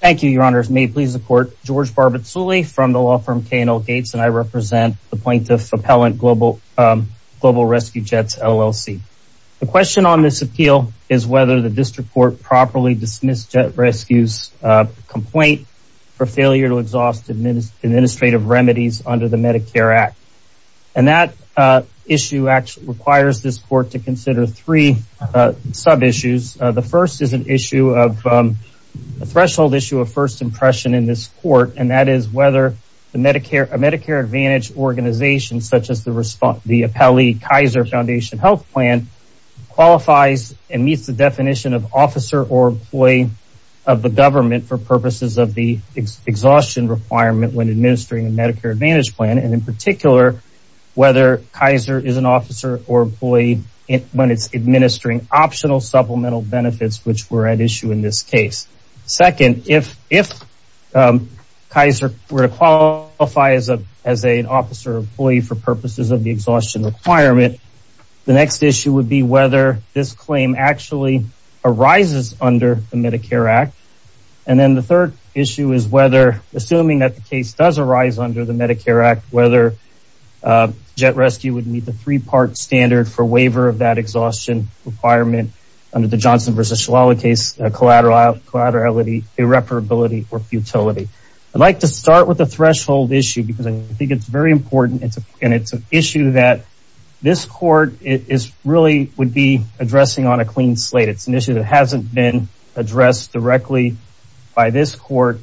Thank you, your honors. May it please the court, George Barbatsuli from the law firm K&L Gates and I represent the plaintiff appellant Global Rescue Jets, LLC. The question on this appeal is whether the district court properly dismissed Jet Rescue's complaint for failure to exhaust administrative remedies under the Medicare Act. And that issue requires this court to consider three sub-issues. The first is an issue of a threshold issue of first impression in this court and that is whether a Medicare Advantage organization such as the appellee Kaiser Foundation Health Plan qualifies and meets the definition of officer or employee of the government for purposes of the exhaustion requirement when administering a Medicare Advantage plan and in particular whether Kaiser is an officer or employee when it's administering optional supplemental benefits which were at issue in this case. Second, if Kaiser were to qualify as a as an officer or employee for purposes of the exhaustion requirement, the next issue would be whether this claim actually arises under the Medicare Act. And then the third issue is whether assuming that the case does arise under the Medicare Act, whether Jet Rescue would meet the three-part standard for waiver of that exhaustion requirement under the Johnson versus Shalala case, collaterality, irreparability, or futility. I would like to start with the threshold issue because I think it's very important and it's an issue that this court really would be addressing on a clean slate. It's an issue that hasn't been addressed directly by this court,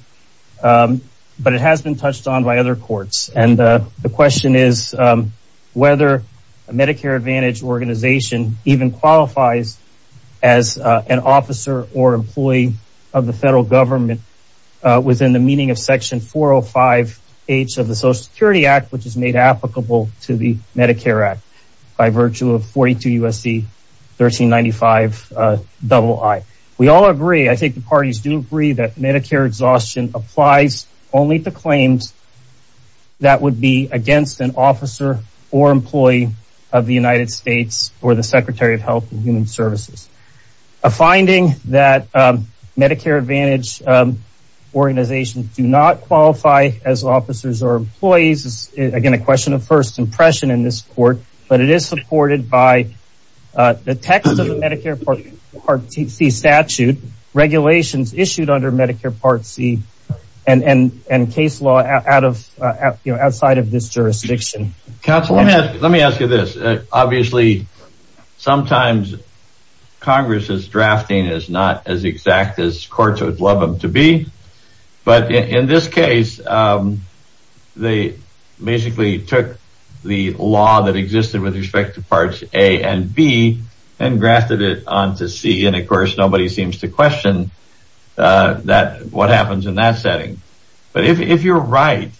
but it has been touched on by other courts. And the question is whether a Medicare Advantage organization even qualifies as an officer or employee of the federal government within the meaning of section 405H of the Social Security Act which is made applicable to the Medicare Act by virtue of 42 U.S.C. 1395 double I. We all agree, I think the parties do agree, that Medicare exhaustion applies only to claims that would be against an officer or employee of the United States or the Secretary of Health and Human Services. A finding that Medicare Advantage organizations do not qualify as officers or employees is, again, a question of first impression in this court, but it is supported by the text of the Medicare Part C statute, regulations issued under Medicare Part C and case law outside of this jurisdiction. Counselor, let me ask you this. Obviously, sometimes Congress's drafting is not as exact as courts would love them to be, but in this case, they basically took the law that existed with respect to Parts A and B and grafted it on to C, and, of course, nobody seems to question what happens in that setting. But if you're right,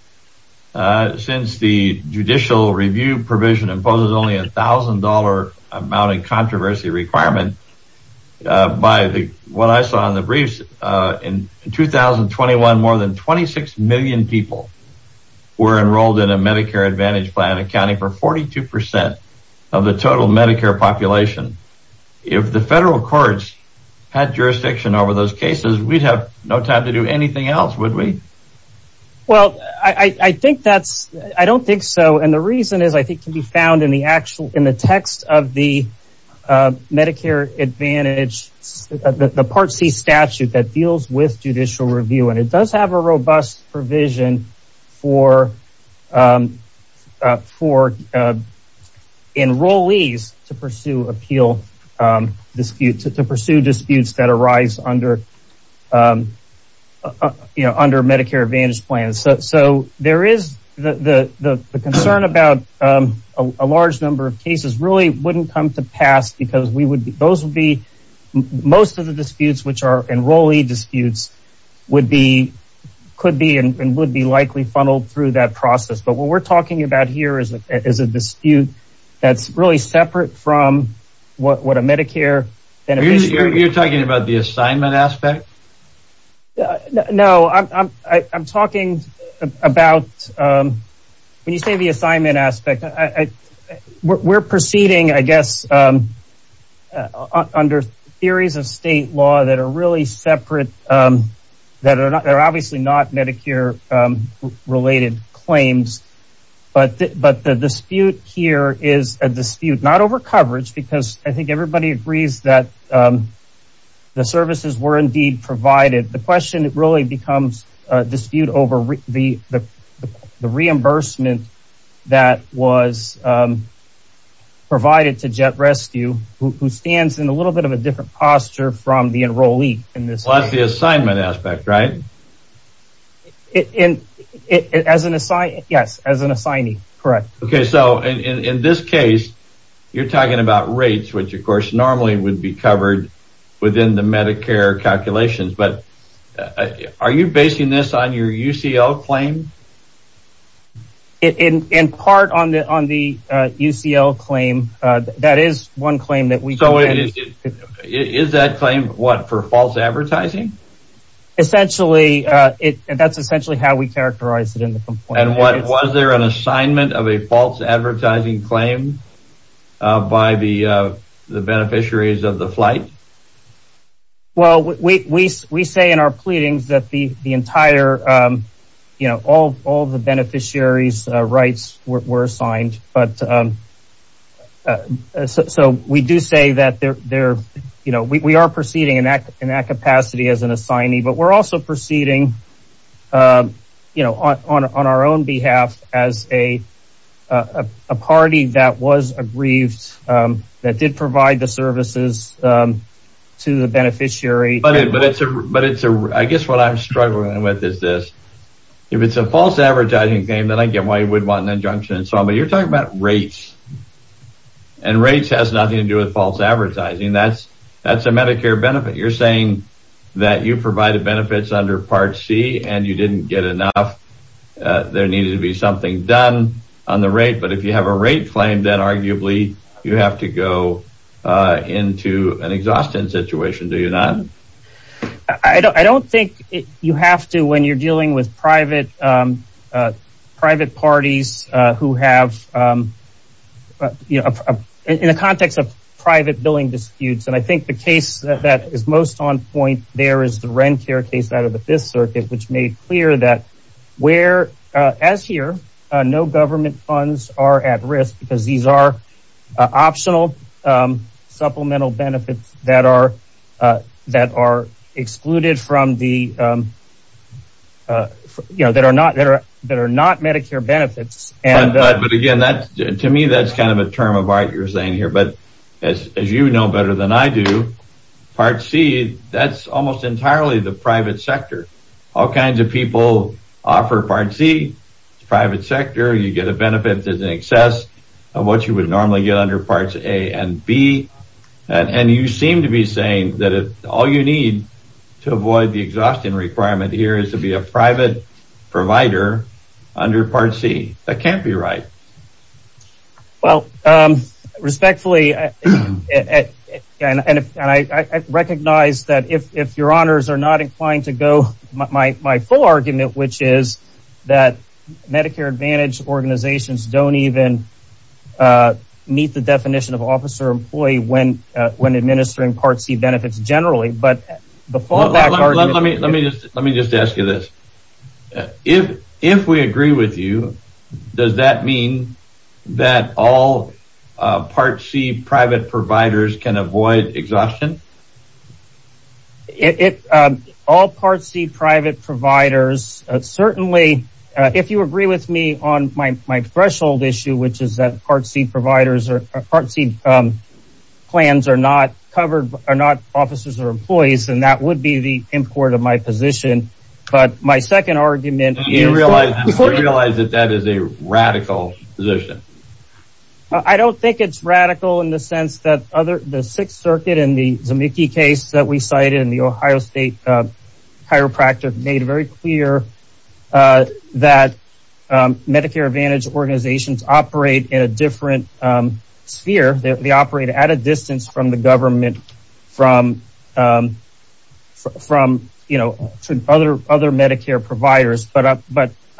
since the judicial review provision imposes only a $1,000 amount of controversy requirement, by what I saw in the briefs, in 2021, more than 26 million people were enrolled in a Medicare Advantage plan accounting for 42% of the total Medicare population. If the federal courts had jurisdiction over those cases, we would have no time to do anything else, would we? I don't think so, and the reason is that it can be found in the text of the Medicare Advantage, the Part C statute that robust provision for enrollees to pursue disputes that arise under Medicare Advantage plans. There is the concern about a large number of cases really wouldn't come to pass because those would be most of the disputes, which are enrollee disputes, would be, could be, and would be likely funneled through that process. But what we're talking about here is a dispute that's really separate from what a Medicare Beneficiary... You're talking about the assignment aspect? No, I'm talking about, when you say the assignment aspect, we're proceeding, I guess, under theories of state law that are really separate, that are obviously not Medicare-related claims, but the dispute here is a dispute not over coverage, because I think everybody agrees that the services were indeed provided. The question really becomes a dispute over the reimbursement that was provided to Jet Rescue, who stands in a little bit of a different posture from the enrollee in this case. That's the assignment aspect, right? Yes, as an assignee, correct. Okay, so in this case, you're talking about rates, which of course normally would be covered within the Medicare calculations, but are you basing this on your UCL claim? In part on the UCL claim, that is one claim that we... So is that claim, what, for false advertising? Essentially, that's essentially how we characterize it in the complaint. And was there an assignment of a false advertising claim by the beneficiaries of the flight? Well, we say in our pleadings that the entire, you know, all the beneficiaries' rights were assigned, but so we do say that they're, you know, we are proceeding in that capacity as an assignee, but we're also proceeding, you know, on our own behalf as a party that was aggrieved, that did provide the services to the beneficiary. But it's a, I guess what I'm struggling with is this, if it's a false advertising claim, then I get why you would want an injunction and so on, but you're talking about rates. And rates has nothing to do with false advertising. That's a Medicare benefit. You're saying that you provided benefits under Part C and you didn't get enough. There needed to be something done on the rate, but if you have a rate claim, then arguably you have to go into an exhaustion situation, do you not? I don't think you have to when you're dealing with private parties who have, you know, in the context of private billing disputes, and I think the case that is most on point there is the Rencare case out of the Fifth Circuit, which made clear that where, as here, no government funds are at risk because these are optional supplemental benefits that are excluded from the, you know, that are not Medicare benefits. But again, to me, that's kind of a term of art you're saying here, but as you know better than I do, Part C, that's almost entirely the private sector. All kinds of people offer Part C. It's a private sector. You get a benefit that's in excess of what you would normally get under Parts A and B, and you seem to be saying that all you need to avoid the exhaustion requirement here is to be a private provider under Part C. That can't be right. Well, respectfully, and I recognize that if your honors are not inclined to go, my full argument, which is that Medicare Advantage organizations don't even meet the definition of officer-employee when administering Part C benefits generally, but the full argument… Let me just ask you this. If we agree with you, does that mean that all Part C private providers can avoid exhaustion? All Part C private providers, certainly, if you agree with me on my threshold issue, is that Part C plans are not covered, are not officers or employees, and that would be the import of my position, but my second argument… Do you realize that that is a radical position? I don't think it's radical in the sense that the Sixth Circuit and the Zemecki case that we cited in the Ohio State chiropractor made very clear that Medicare Advantage organizations operate in a different sphere. They operate at a distance from the government, from other Medicare providers, but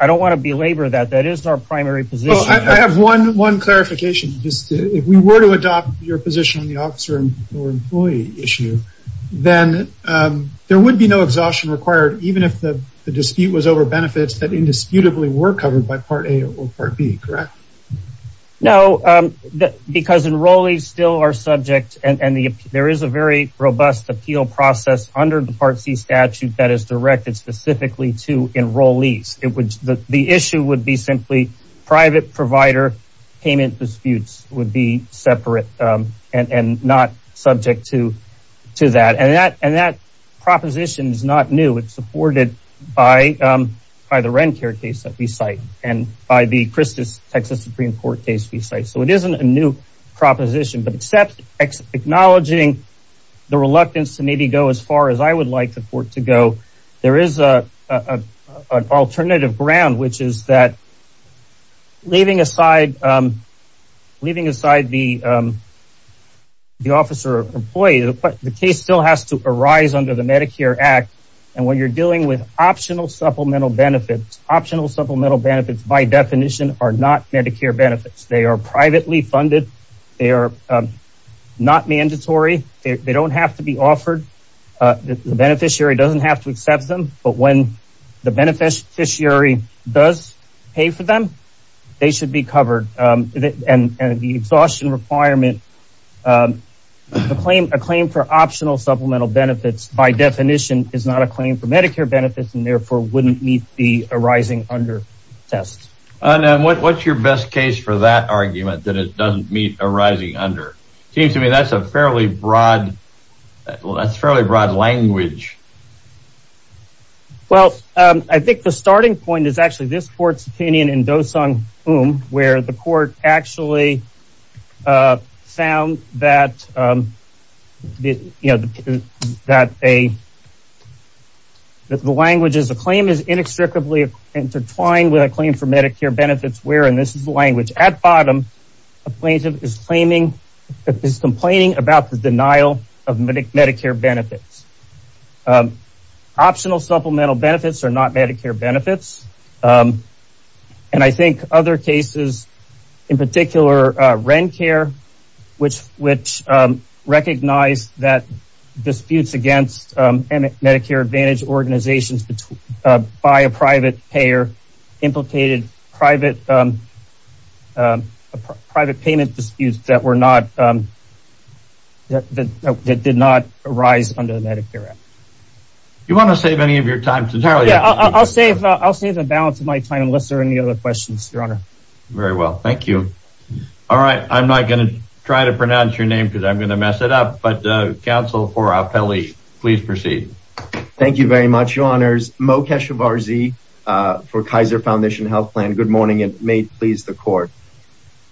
I don't want to belabor that. That is our primary position. I have one clarification. If we were to adopt your position on the officer-employee issue, then there would be no exhaustion required, even if the dispute was over benefits that indisputably were covered by Part A or Part B, correct? No, because enrollees still are subject, and there is a very robust appeal process under the Part C statute that is directed specifically to enrollees. The issue would be simply private provider payment disputes would be separate and not subject to that, and that proposition is not new. It's supported by the Rencare case that we cite and by the Texas Supreme Court case we cite, so it isn't a new proposition, but except acknowledging the reluctance to maybe go as far as I would like the court to go, there is an alternative ground, which is that leaving aside the officer-employee, the case still has to arise under the Medicare Act, and when you're dealing with optional supplemental benefits, optional supplemental benefits by definition are not Medicare benefits. They are privately funded. They are not mandatory. They don't have to be offered. The beneficiary doesn't have to accept them, but when the beneficiary does pay for them, they should be covered, and the exhaustion requirement, a claim for optional supplemental benefits by definition is not a claim for Medicare benefits and therefore wouldn't meet the arising under test. What's your best case for that argument that it doesn't meet arising under? Seems to me that's a fairly broad language. Well, I think the starting point is actually this court's opinion where the court actually found that the language is a claim is inextricably intertwined with a claim for Medicare benefits and this is the language. At the bottom, the plaintiff is complaining about the denial of Medicare benefits. Optional supplemental benefits are not Medicare benefits, and I think other cases, in particular, which recognize that disputes against Medicare advantage organizations by a private payer implicated private payment disputes that did not arise under the Medicare Act. Do you want to save any of your time? I'll save the balance of my time unless there are any other questions, your honor. Very well, thank you. All right, I'm not going to try to pronounce your name because I'm going to mess it up, but counsel for Apelli, please proceed. Thank you very much, your honors. Mo Keshavarzi for Kaiser Foundation Health Plan. Good morning and may it please the court.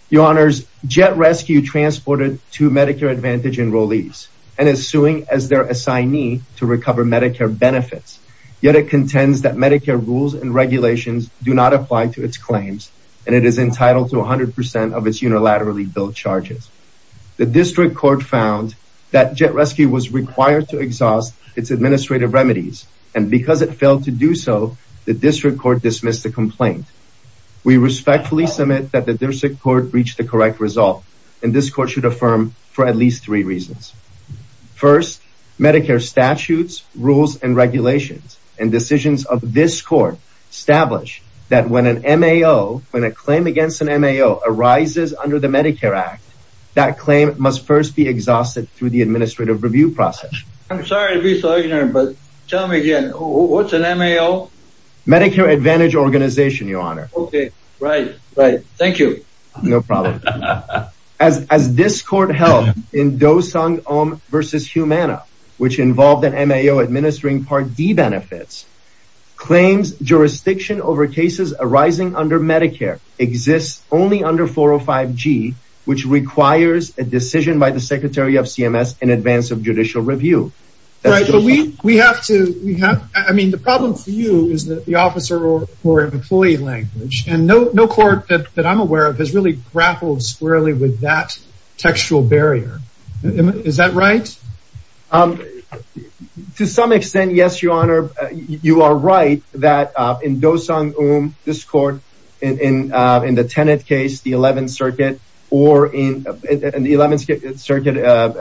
Your honors, Jet Rescue transported two Medicare advantage enrollees and is suing as their assignee to recover Medicare benefits, yet it contends that Medicare rules and regulations do not apply to its claims and it is entitled to 100% of its unilaterally billed charges. The district court found that Jet Rescue was required to exhaust its administrative remedies and because it failed to do so, the district court dismissed the complaint. We respectfully submit that the district court reached the correct result and this court should affirm for at least three reasons. First, Medicare statutes, rules, and regulations and decisions of this court establish that when a claim against an MAO arises under the Medicare Act, that claim must first be exhausted through the administrative review process. I'm sorry to be so ignorant, but tell me again, what's an MAO? Medicare Advantage Organization, your honor. Okay, right, right, thank you. No problem. As this court held in Dosung Ohm versus Humana, which involved an MAO administering Part D under Medicare exists only under 405G, which requires a decision by the Secretary of CMS in advance of judicial review. Right, but we have to, I mean the problem for you is that the officer or employee language and no court that I'm aware of has really grappled squarely with that textual barrier. Is that right? To some extent, yes, your honor. You are right that in Dosung Ohm, this court in the tenant case, the 11th circuit or in the 11th circuit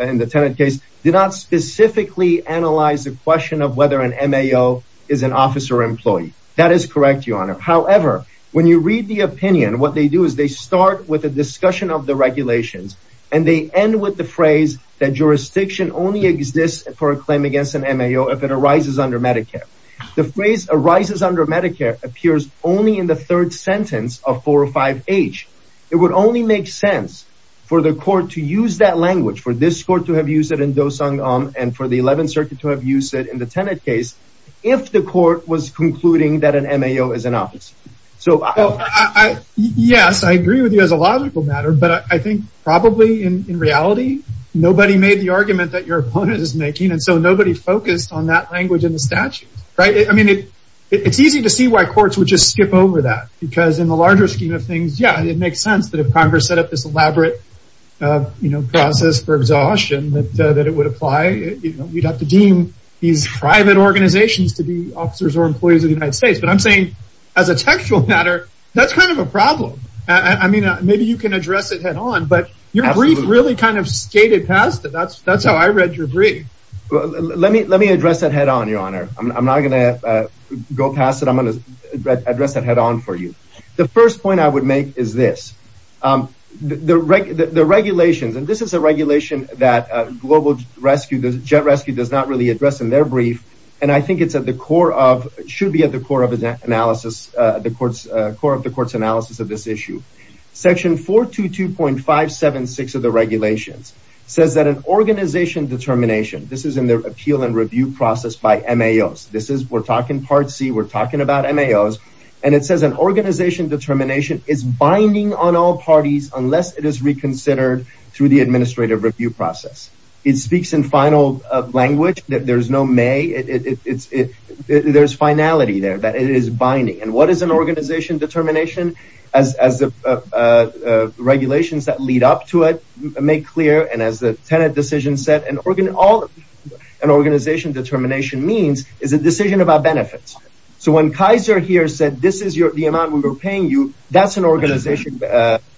in the tenant case, did not specifically analyze the question of whether an MAO is an officer employee. That is correct, your honor. However, when you read the opinion, what they do is they start with a discussion of the regulations and they end with the phrase that jurisdiction only exists for a in the third sentence of 405H. It would only make sense for the court to use that language for this court to have used it in Dosung Ohm and for the 11th circuit to have used it in the tenant case if the court was concluding that an MAO is an officer. Yes, I agree with you as a logical matter, but I think probably in reality, nobody made the argument that your opponent is making and so nobody focused on that language in the statute, right? I mean, it's easy to see why courts would skip over that because in the larger scheme of things, yeah, it makes sense that if Congress set up this elaborate process for exhaustion that it would apply, we'd have to deem these private organizations to be officers or employees of the United States. But I'm saying as a textual matter, that's kind of a problem. I mean, maybe you can address it head on, but your brief really kind of skated past it. That's how I read your brief. Let me address that head on, your honor. I'm going to address that head on for you. The first point I would make is this. The regulations, and this is a regulation that Global Jet Rescue does not really address in their brief, and I think it's at the core of, should be at the core of the court's analysis of this issue. Section 422.576 of the regulations says that an organization determination, this is in their and it says an organization determination is binding on all parties unless it is reconsidered through the administrative review process. It speaks in final language that there's no may, there's finality there, that it is binding. And what is an organization determination? As the regulations that lead up to it make clear, and as the tenant decision set, an organization determination means is a decision about benefits. So when Kaiser here said, the amount we were paying you, that's an organization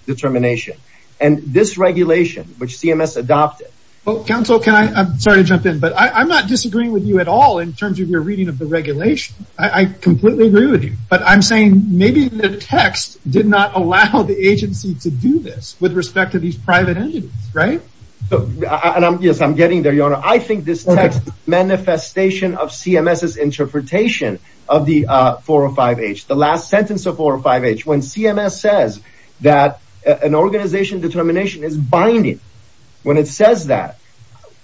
determination. And this regulation, which CMS adopted. Well, counsel, can I, I'm sorry to jump in, but I'm not disagreeing with you at all in terms of your reading of the regulation. I completely agree with you, but I'm saying maybe the text did not allow the agency to do this with respect to these private entities, right? And I'm, yes, I'm getting there, your honor. I think this text manifestation of CMS's last sentence of 405H, when CMS says that an organization determination is binding, when it says that,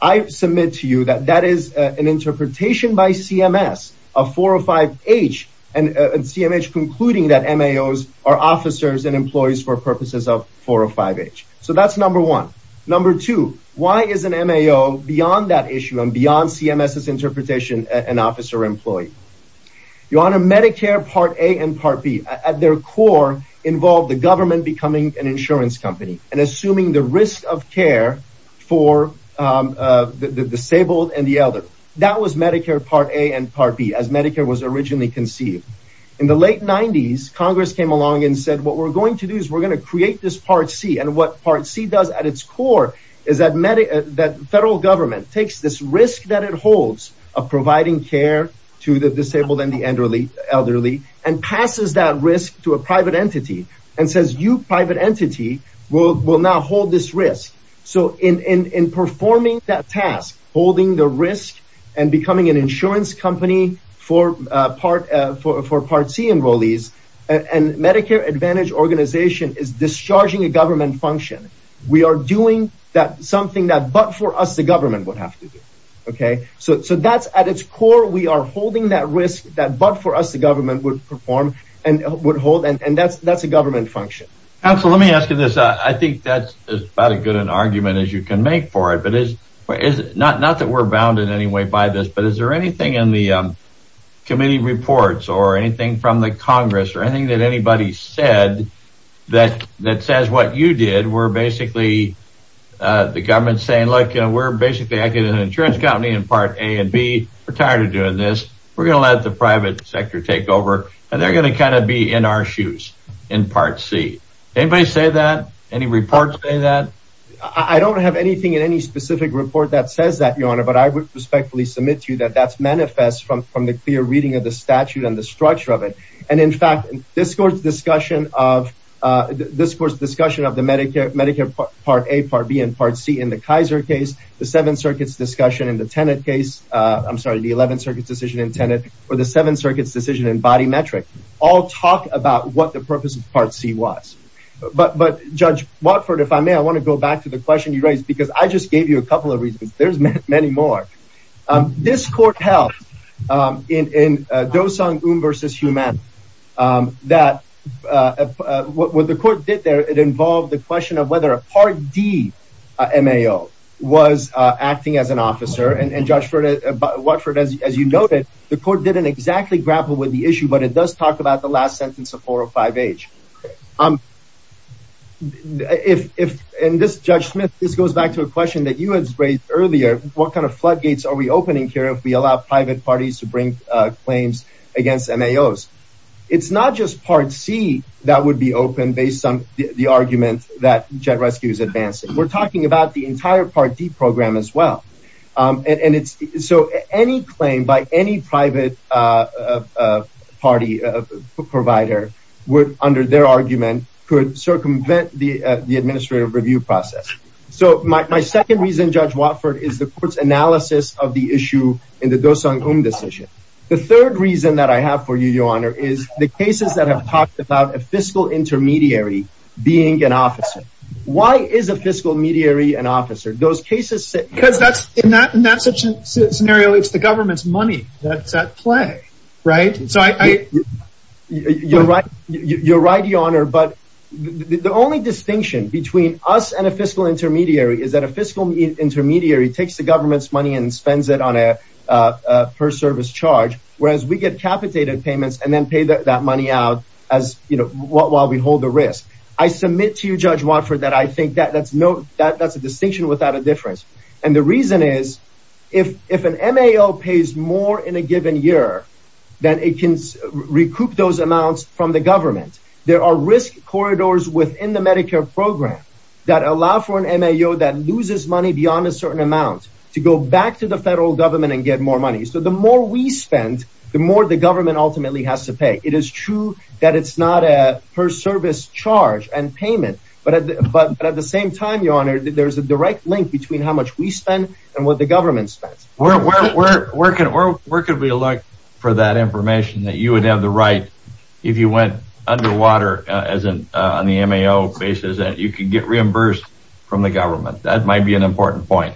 I submit to you that that is an interpretation by CMS of 405H and CMH concluding that MAOs are officers and employees for purposes of 405H. So that's number one. Number two, why is an MAO beyond that issue and beyond CMS's interpretation, an officer employee? Your honor, Medicare part A and part B at their core involved the government becoming an insurance company and assuming the risk of care for the disabled and the elder. That was Medicare part A and part B as Medicare was originally conceived. In the late nineties, Congress came along and said, what we're going to do is we're going to create this part C. And what part C does at its core is that federal government takes this risk that it holds of providing care to the disabled and the elderly and passes that risk to a private entity and says, you private entity will now hold this risk. So in performing that task, holding the risk and becoming an insurance company for part C enrollees and Medicare Advantage organization is discharging a government function. We are doing something that but for us, the government would have to do. Okay. So that's at its core. We are holding that risk that but for us, the government would perform and would hold. And that's a government function. Counselor, let me ask you this. I think that's about as good an argument as you can make for it. Not that we're bound in any way by this, but is there anything in the committee reports or anything from the Congress or anything that anybody said that says what you did were basically the government saying, look, we're basically acting as an insurance company in part A and B. We're tired of doing this. We're going to let the private sector take over. And they're going to kind of be in our shoes in part C. Anybody say that? Any reports say that? I don't have anything in any specific report that says that, Your Honor, but I would respectfully submit to you that that's manifest from the clear reading of the statute and structure of it. And in fact, this court's discussion of the Medicare Part A, Part B, and Part C in the Kaiser case, the Seventh Circuit's discussion in the Tenet case, I'm sorry, the Eleventh Circuit's decision in Tenet, or the Seventh Circuit's decision in body metric all talk about what the purpose of Part C was. But Judge Watford, if I may, I want to go back to the question you raised because I just gave you a couple of reasons. There's many more. This court held in Dosung Un versus Humana that what the court did there, it involved the question of whether a Part D MAO was acting as an officer. And Judge Watford, as you noted, the court didn't exactly grapple with the issue, but it does talk about the last what kind of floodgates are we opening here if we allow private parties to bring claims against MAOs? It's not just Part C that would be open based on the argument that Jet Rescue is advancing. We're talking about the entire Part D program as well. And so any claim by any private party provider would, under their argument, could circumvent the administrative review process. So my second reason, Judge Watford, is the court's analysis of the issue in the Dosung Un decision. The third reason that I have for you, Your Honor, is the cases that have talked about a fiscal intermediary being an officer. Why is a fiscal intermediary an officer? Those cases... Because in that scenario, it's the government's money that's at play, right? You're right, Your Honor, but the only distinction between us and a fiscal intermediary is that a fiscal intermediary takes the government's money and spends it on a per service charge, whereas we get capitated payments and then pay that money out as, you know, while we hold the risk. I submit to you, Judge Watford, that I think that's a distinction without a difference. And the reason is, if an MAO pays more in a given year, then it can recoup those amounts from the government. There are risk corridors within the Medicare program that allow for an MAO that loses money beyond a certain amount to go back to the federal government and get more money. So the more we spend, the more the government ultimately has to pay. It is true that it's not a per service charge and payment, but at the same time, Your Honor, there's a direct link between how much we spend and what the government spends. Where could we look for that information that you would have the right, if you went underwater, as in on the MAO basis, that you could get reimbursed from the government? That might be an important point.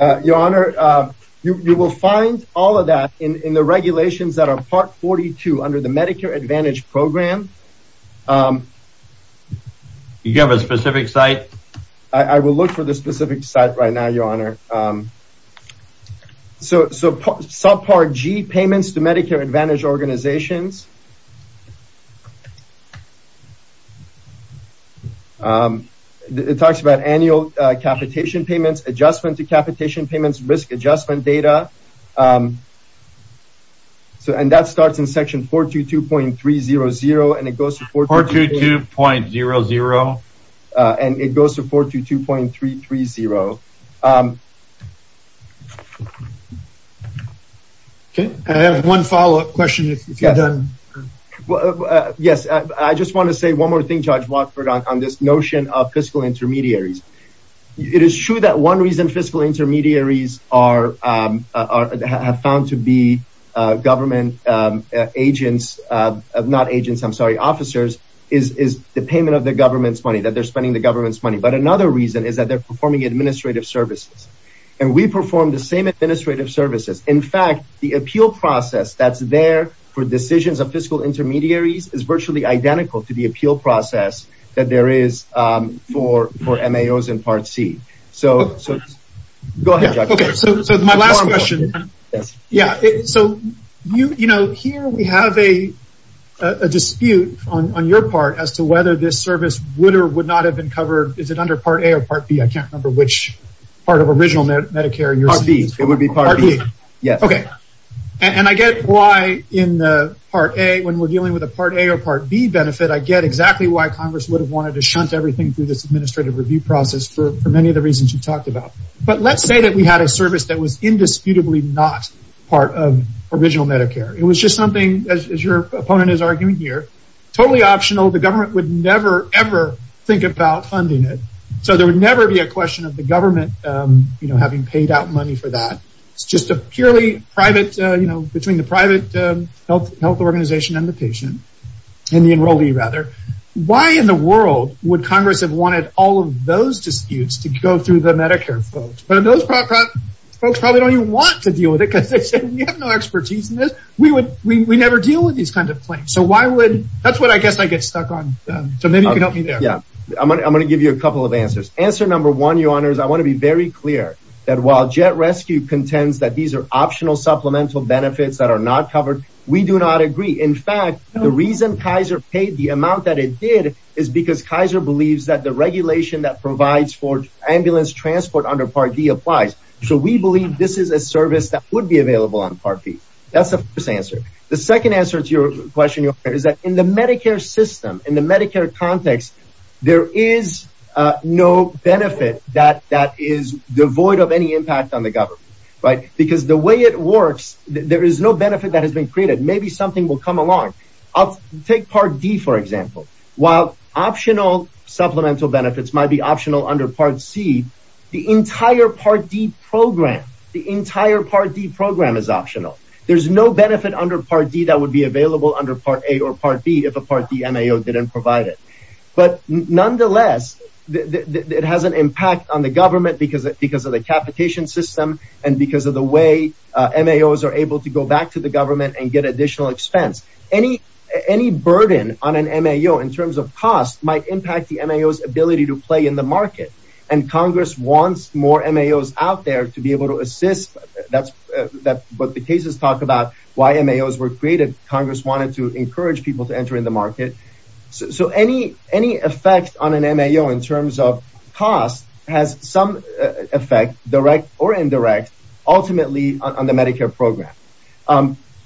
Your Honor, you will find all of that in the regulations that are part 42 under the Medicare Advantage program. You have a specific site? I will look for the specific site right now, Your Honor. So subpart G, payments to Medicare Advantage organizations. It talks about annual capitation payments, adjustment to capitation payments, risk data, and that starts in section 422.300. And it goes to 422.300. I have one follow-up question. Yes, I just want to say one more thing, Judge Watford, on this notion of fiscal intermediaries. It is true that one reason fiscal intermediaries are found to be government agents, not agents, I'm sorry, officers, is the payment of the government's money, that they're spending the government's money. But another reason is that they're performing administrative services. And we perform the same administrative services. In fact, the appeal process that's there for decisions of fiscal intermediaries is virtually identical to the appeal process that there is for MAOs in Part C. So go ahead, Judge Watford. So my last question. So here we have a dispute on your part as to whether this service would or would not have been covered. Is it under Part A or Part B? I can't remember which part of original Medicare. Part B. It would be Part B. Okay. And I get why in Part A, when we're dealing with a Part A or Part B benefit, I get exactly why Congress would have wanted to shunt everything through this administrative review process for many of the reasons you talked about. But let's say that we had a service that was indisputably not part of original Medicare. It was just something, as your opponent is arguing here, totally optional. The government would never ever think about funding it. So there would never be a question of the government, you know, having paid out money for that. It's just a purely private, you know, between the private health organization and the patient, and the enrollee, rather. Why in the world would Congress have wanted all of those disputes to go through the Medicare folks? But those folks probably don't even want to deal with it because they say, we have no expertise in this. We never deal with these kinds of claims. So why would, that's what I guess I get stuck on. So maybe you can help me there. I'm going to give you a couple of answers. Answer number one, your honors, I want to be very clear that while Jet Rescue contends that these are optional supplemental benefits that are not covered, we do not agree. In fact, the reason Kaiser paid the amount that it did is because Kaiser believes that the regulation that provides for ambulance transport under Part D applies. So we believe this is a service that would be available on Part B. That's the first answer. The second answer to your question, your honor, is that in the Medicare system, in the Medicare context, there is no benefit that is devoid of any impact on the government, right? Because the way it works, there is no benefit that has been created. Maybe something will come along. I'll take Part D, for example. While optional supplemental benefits might be optional under Part C, the entire Part D program, the entire Part D program is optional. There's no benefit under Part D that would be available under Part A or Part B if a Part D M.A.O. didn't provide it. But nonetheless, it has an impact on the government because of the capitation system and because of the way M.A.Os are able to go back to the government and get additional expense. Any burden on an M.A.O. in terms of cost might impact the M.A.O.'s ability to play in the market. And Congress wants more M.A.Os out there to be able to assist. But the cases talk about why M.A.Os were created. Congress wanted to encourage people to enter in the market. So any effect on an M.A.O. in terms of cost has some effect, direct or indirect, ultimately on the Medicare program.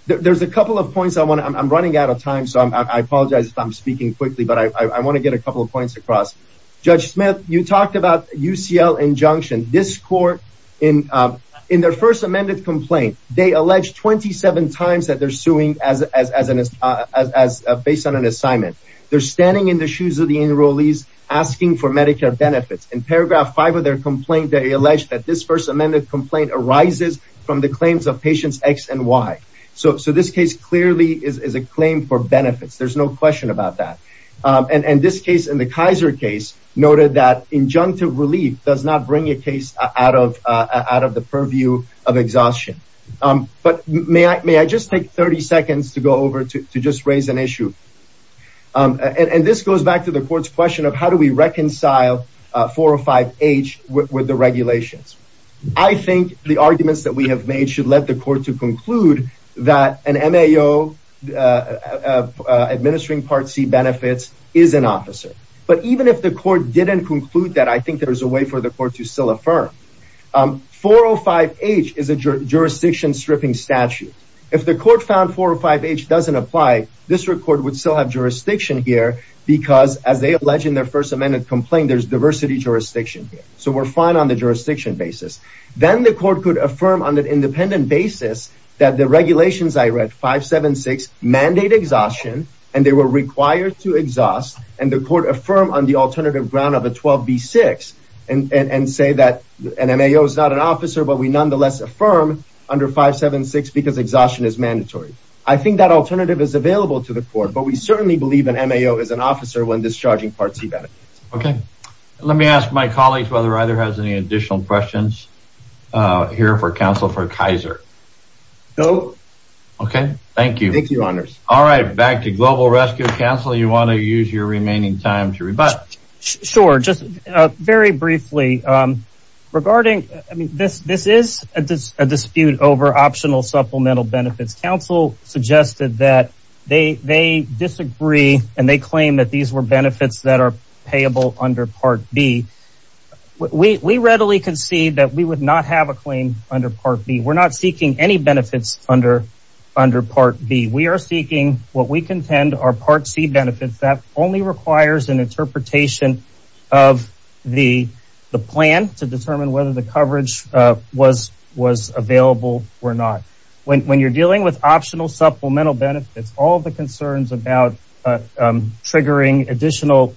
There's a couple of points. I'm running out of time, so I apologize if I'm speaking quickly, but I want to get a couple of points across. Judge Smith, you talked about UCL injunction. This court, in their first amended complaint, they allege 27 times that they're suing based on an assignment. They're standing in the shoes of the enrollees asking for Medicare benefits. In paragraph 5 of their complaint, they allege that this first amended complaint arises from the claims of patients X and Y. So this case clearly is a claim for benefits. There's no question about that. And this case, in the Kaiser case, noted that injunctive relief does not bring a case out of the purview of exhaustion. But may I just take 30 seconds to go over to just raise an issue? And this goes back to the court's question of how do we reconcile 405H with the regulations? I think the arguments that we have made should let the court to conclude that an M.A.O. administering Part C benefits is an M.A.O. administering Part C benefits. I think there's a way for the court to still affirm. 405H is a jurisdiction stripping statute. If the court found 405H doesn't apply, this court would still have jurisdiction here because as they allege in their first amended complaint, there's diversity jurisdiction. So we're fine on the jurisdiction basis. Then the court could affirm on an independent basis that the regulations I read, 576, mandate exhaustion, and they were required to exhaust, and the court affirm on the alternative ground of a 12B6 and say that an M.A.O. is not an officer, but we nonetheless affirm under 576 because exhaustion is mandatory. I think that alternative is available to the court, but we certainly believe an M.A.O. is an officer when discharging Part C benefits. Okay. Let me ask my colleagues whether either has any additional questions here for counsel for Kaiser. No. Okay. Thank you. Thank you, honors. All right. Back to Global Rescue Council. You want to use your remaining time to rebut. Sure. Just very briefly regarding, I mean, this is a dispute over optional supplemental benefits. Council suggested that they disagree and they claim that these were benefits that are payable under Part B. We readily concede that we would not have a claim under Part B. We're not seeking any benefits under Part B. We are seeking what we contend are Part C benefits. That only requires an interpretation of the plan to determine whether the coverage was available or not. When you're dealing with optional supplemental benefits, all the concerns about triggering additional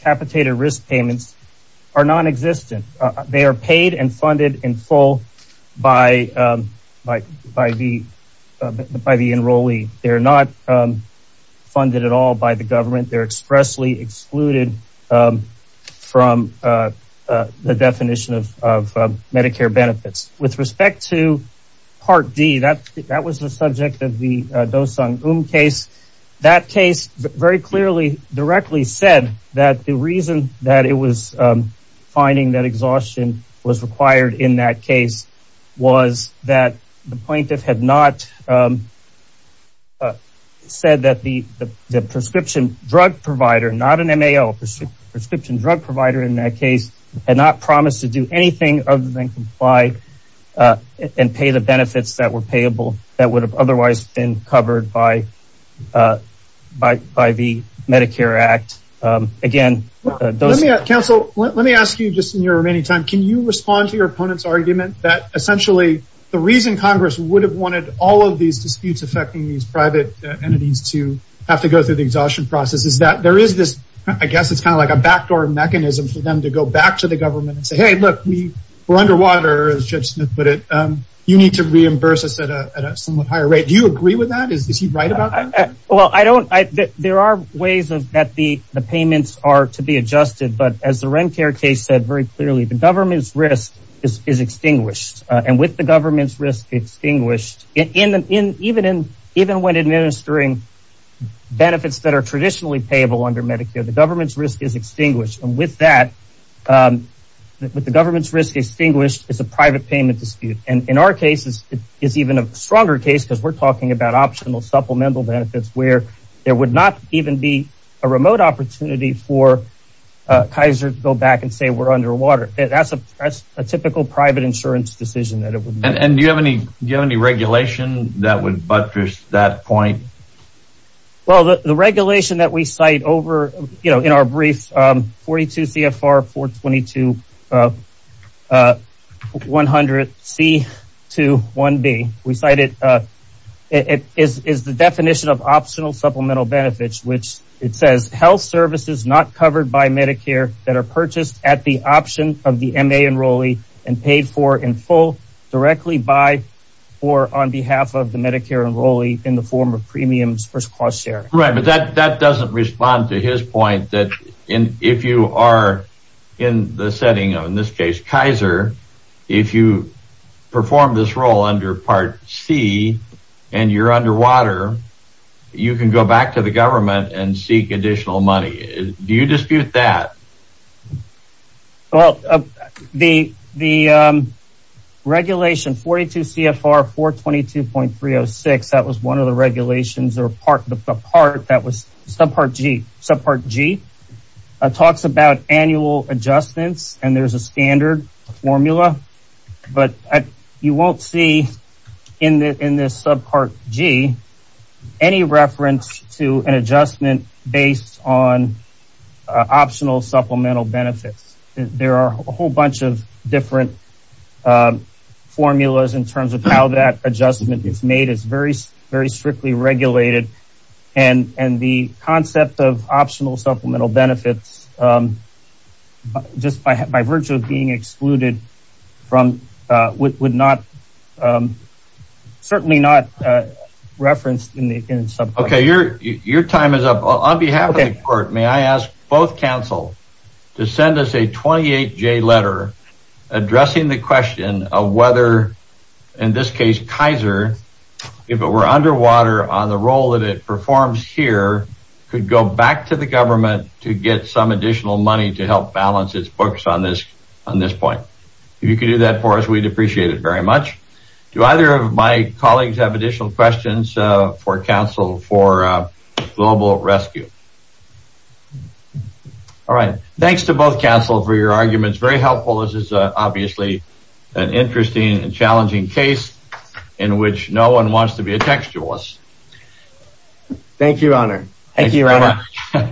capitated risk are non-existent. They are paid and funded in full by the enrollee. They're not funded at all by the government. They're expressly excluded from the definition of Medicare benefits. With respect to Part D, that was the subject of the Dosung-Eum case. That case very clearly directly said that the reason that it was finding that exhaustion was required in that case was that the plaintiff had not said that the prescription drug provider, not an MAO, prescription drug provider in that case, had not promised to do anything other than comply and pay the benefits that were payable that would have otherwise been covered by the Medicare Act. Counsel, let me ask you just in your remaining time, can you respond to your opponent's argument that essentially the reason Congress would have wanted all of these disputes affecting these private entities to have to go through the exhaustion process is that there is this, I guess it's kind of like a backdoor mechanism for them to go back to the government and say, we're underwater. You need to reimburse us at a somewhat higher rate. Do you agree with that? There are ways that the payments are to be adjusted, but as the Rencare case said very clearly, the government's risk is extinguished. With the government's risk extinguished, even when administering benefits that are traditionally payable under Medicare, the government's risk is extinguished. With that, with the government's risk extinguished, it's a private payment dispute. In our case, it's even a stronger case because we're talking about optional supplemental benefits where there would not even be a remote opportunity for Kaiser to go back and say we're underwater. That's a typical private insurance decision. And do you have any regulation that would buttress that point? Well, the regulation that we cite over, you know, in our brief 42 CFR 422 100 C21B, we cited, it is the definition of optional supplemental benefits, which it says health services not covered by Medicare that are purchased at the option of the MA enrollee and paid for in full, directly by or on behalf of the Medicare enrollee in the form of premiums versus cost share. Right. But that doesn't respond to his point that if you are in the setting of, in this case, Kaiser, if you perform this role under Part C and you're underwater, you can go back to the government and seek additional money. Do you dispute that? Well, the regulation 42 CFR 422.306, that was one of the regulations or part that was subpart G, subpart G talks about annual adjustments and there's a standard formula. But you won't see in this subpart G any reference to an adjustment based on optional supplemental benefits. There are a whole bunch of different formulas in terms of how that adjustment is made. It's very, very strictly regulated. And the concept of optional supplemental benefits, um, just by, by virtue of being excluded from, uh, would not, um, certainly not, uh, referenced in the subpart. Okay. Your, your time is up on behalf of the court. May I ask both counsel to send us a 28 J letter addressing the question of whether in this case, Kaiser, if it were underwater on the role that it performs here could go back to the government to get some additional money to help balance its books on this, on this point. If you could do that for us, we'd appreciate it very much. Do either of my colleagues have additional questions, uh, for counsel, for a global rescue? All right. Thanks to both counsel for your arguments. Very helpful. This is a, obviously an interesting and challenging case in which no one wants to be a textualist. Thank you, Your Honor. Thank you very much.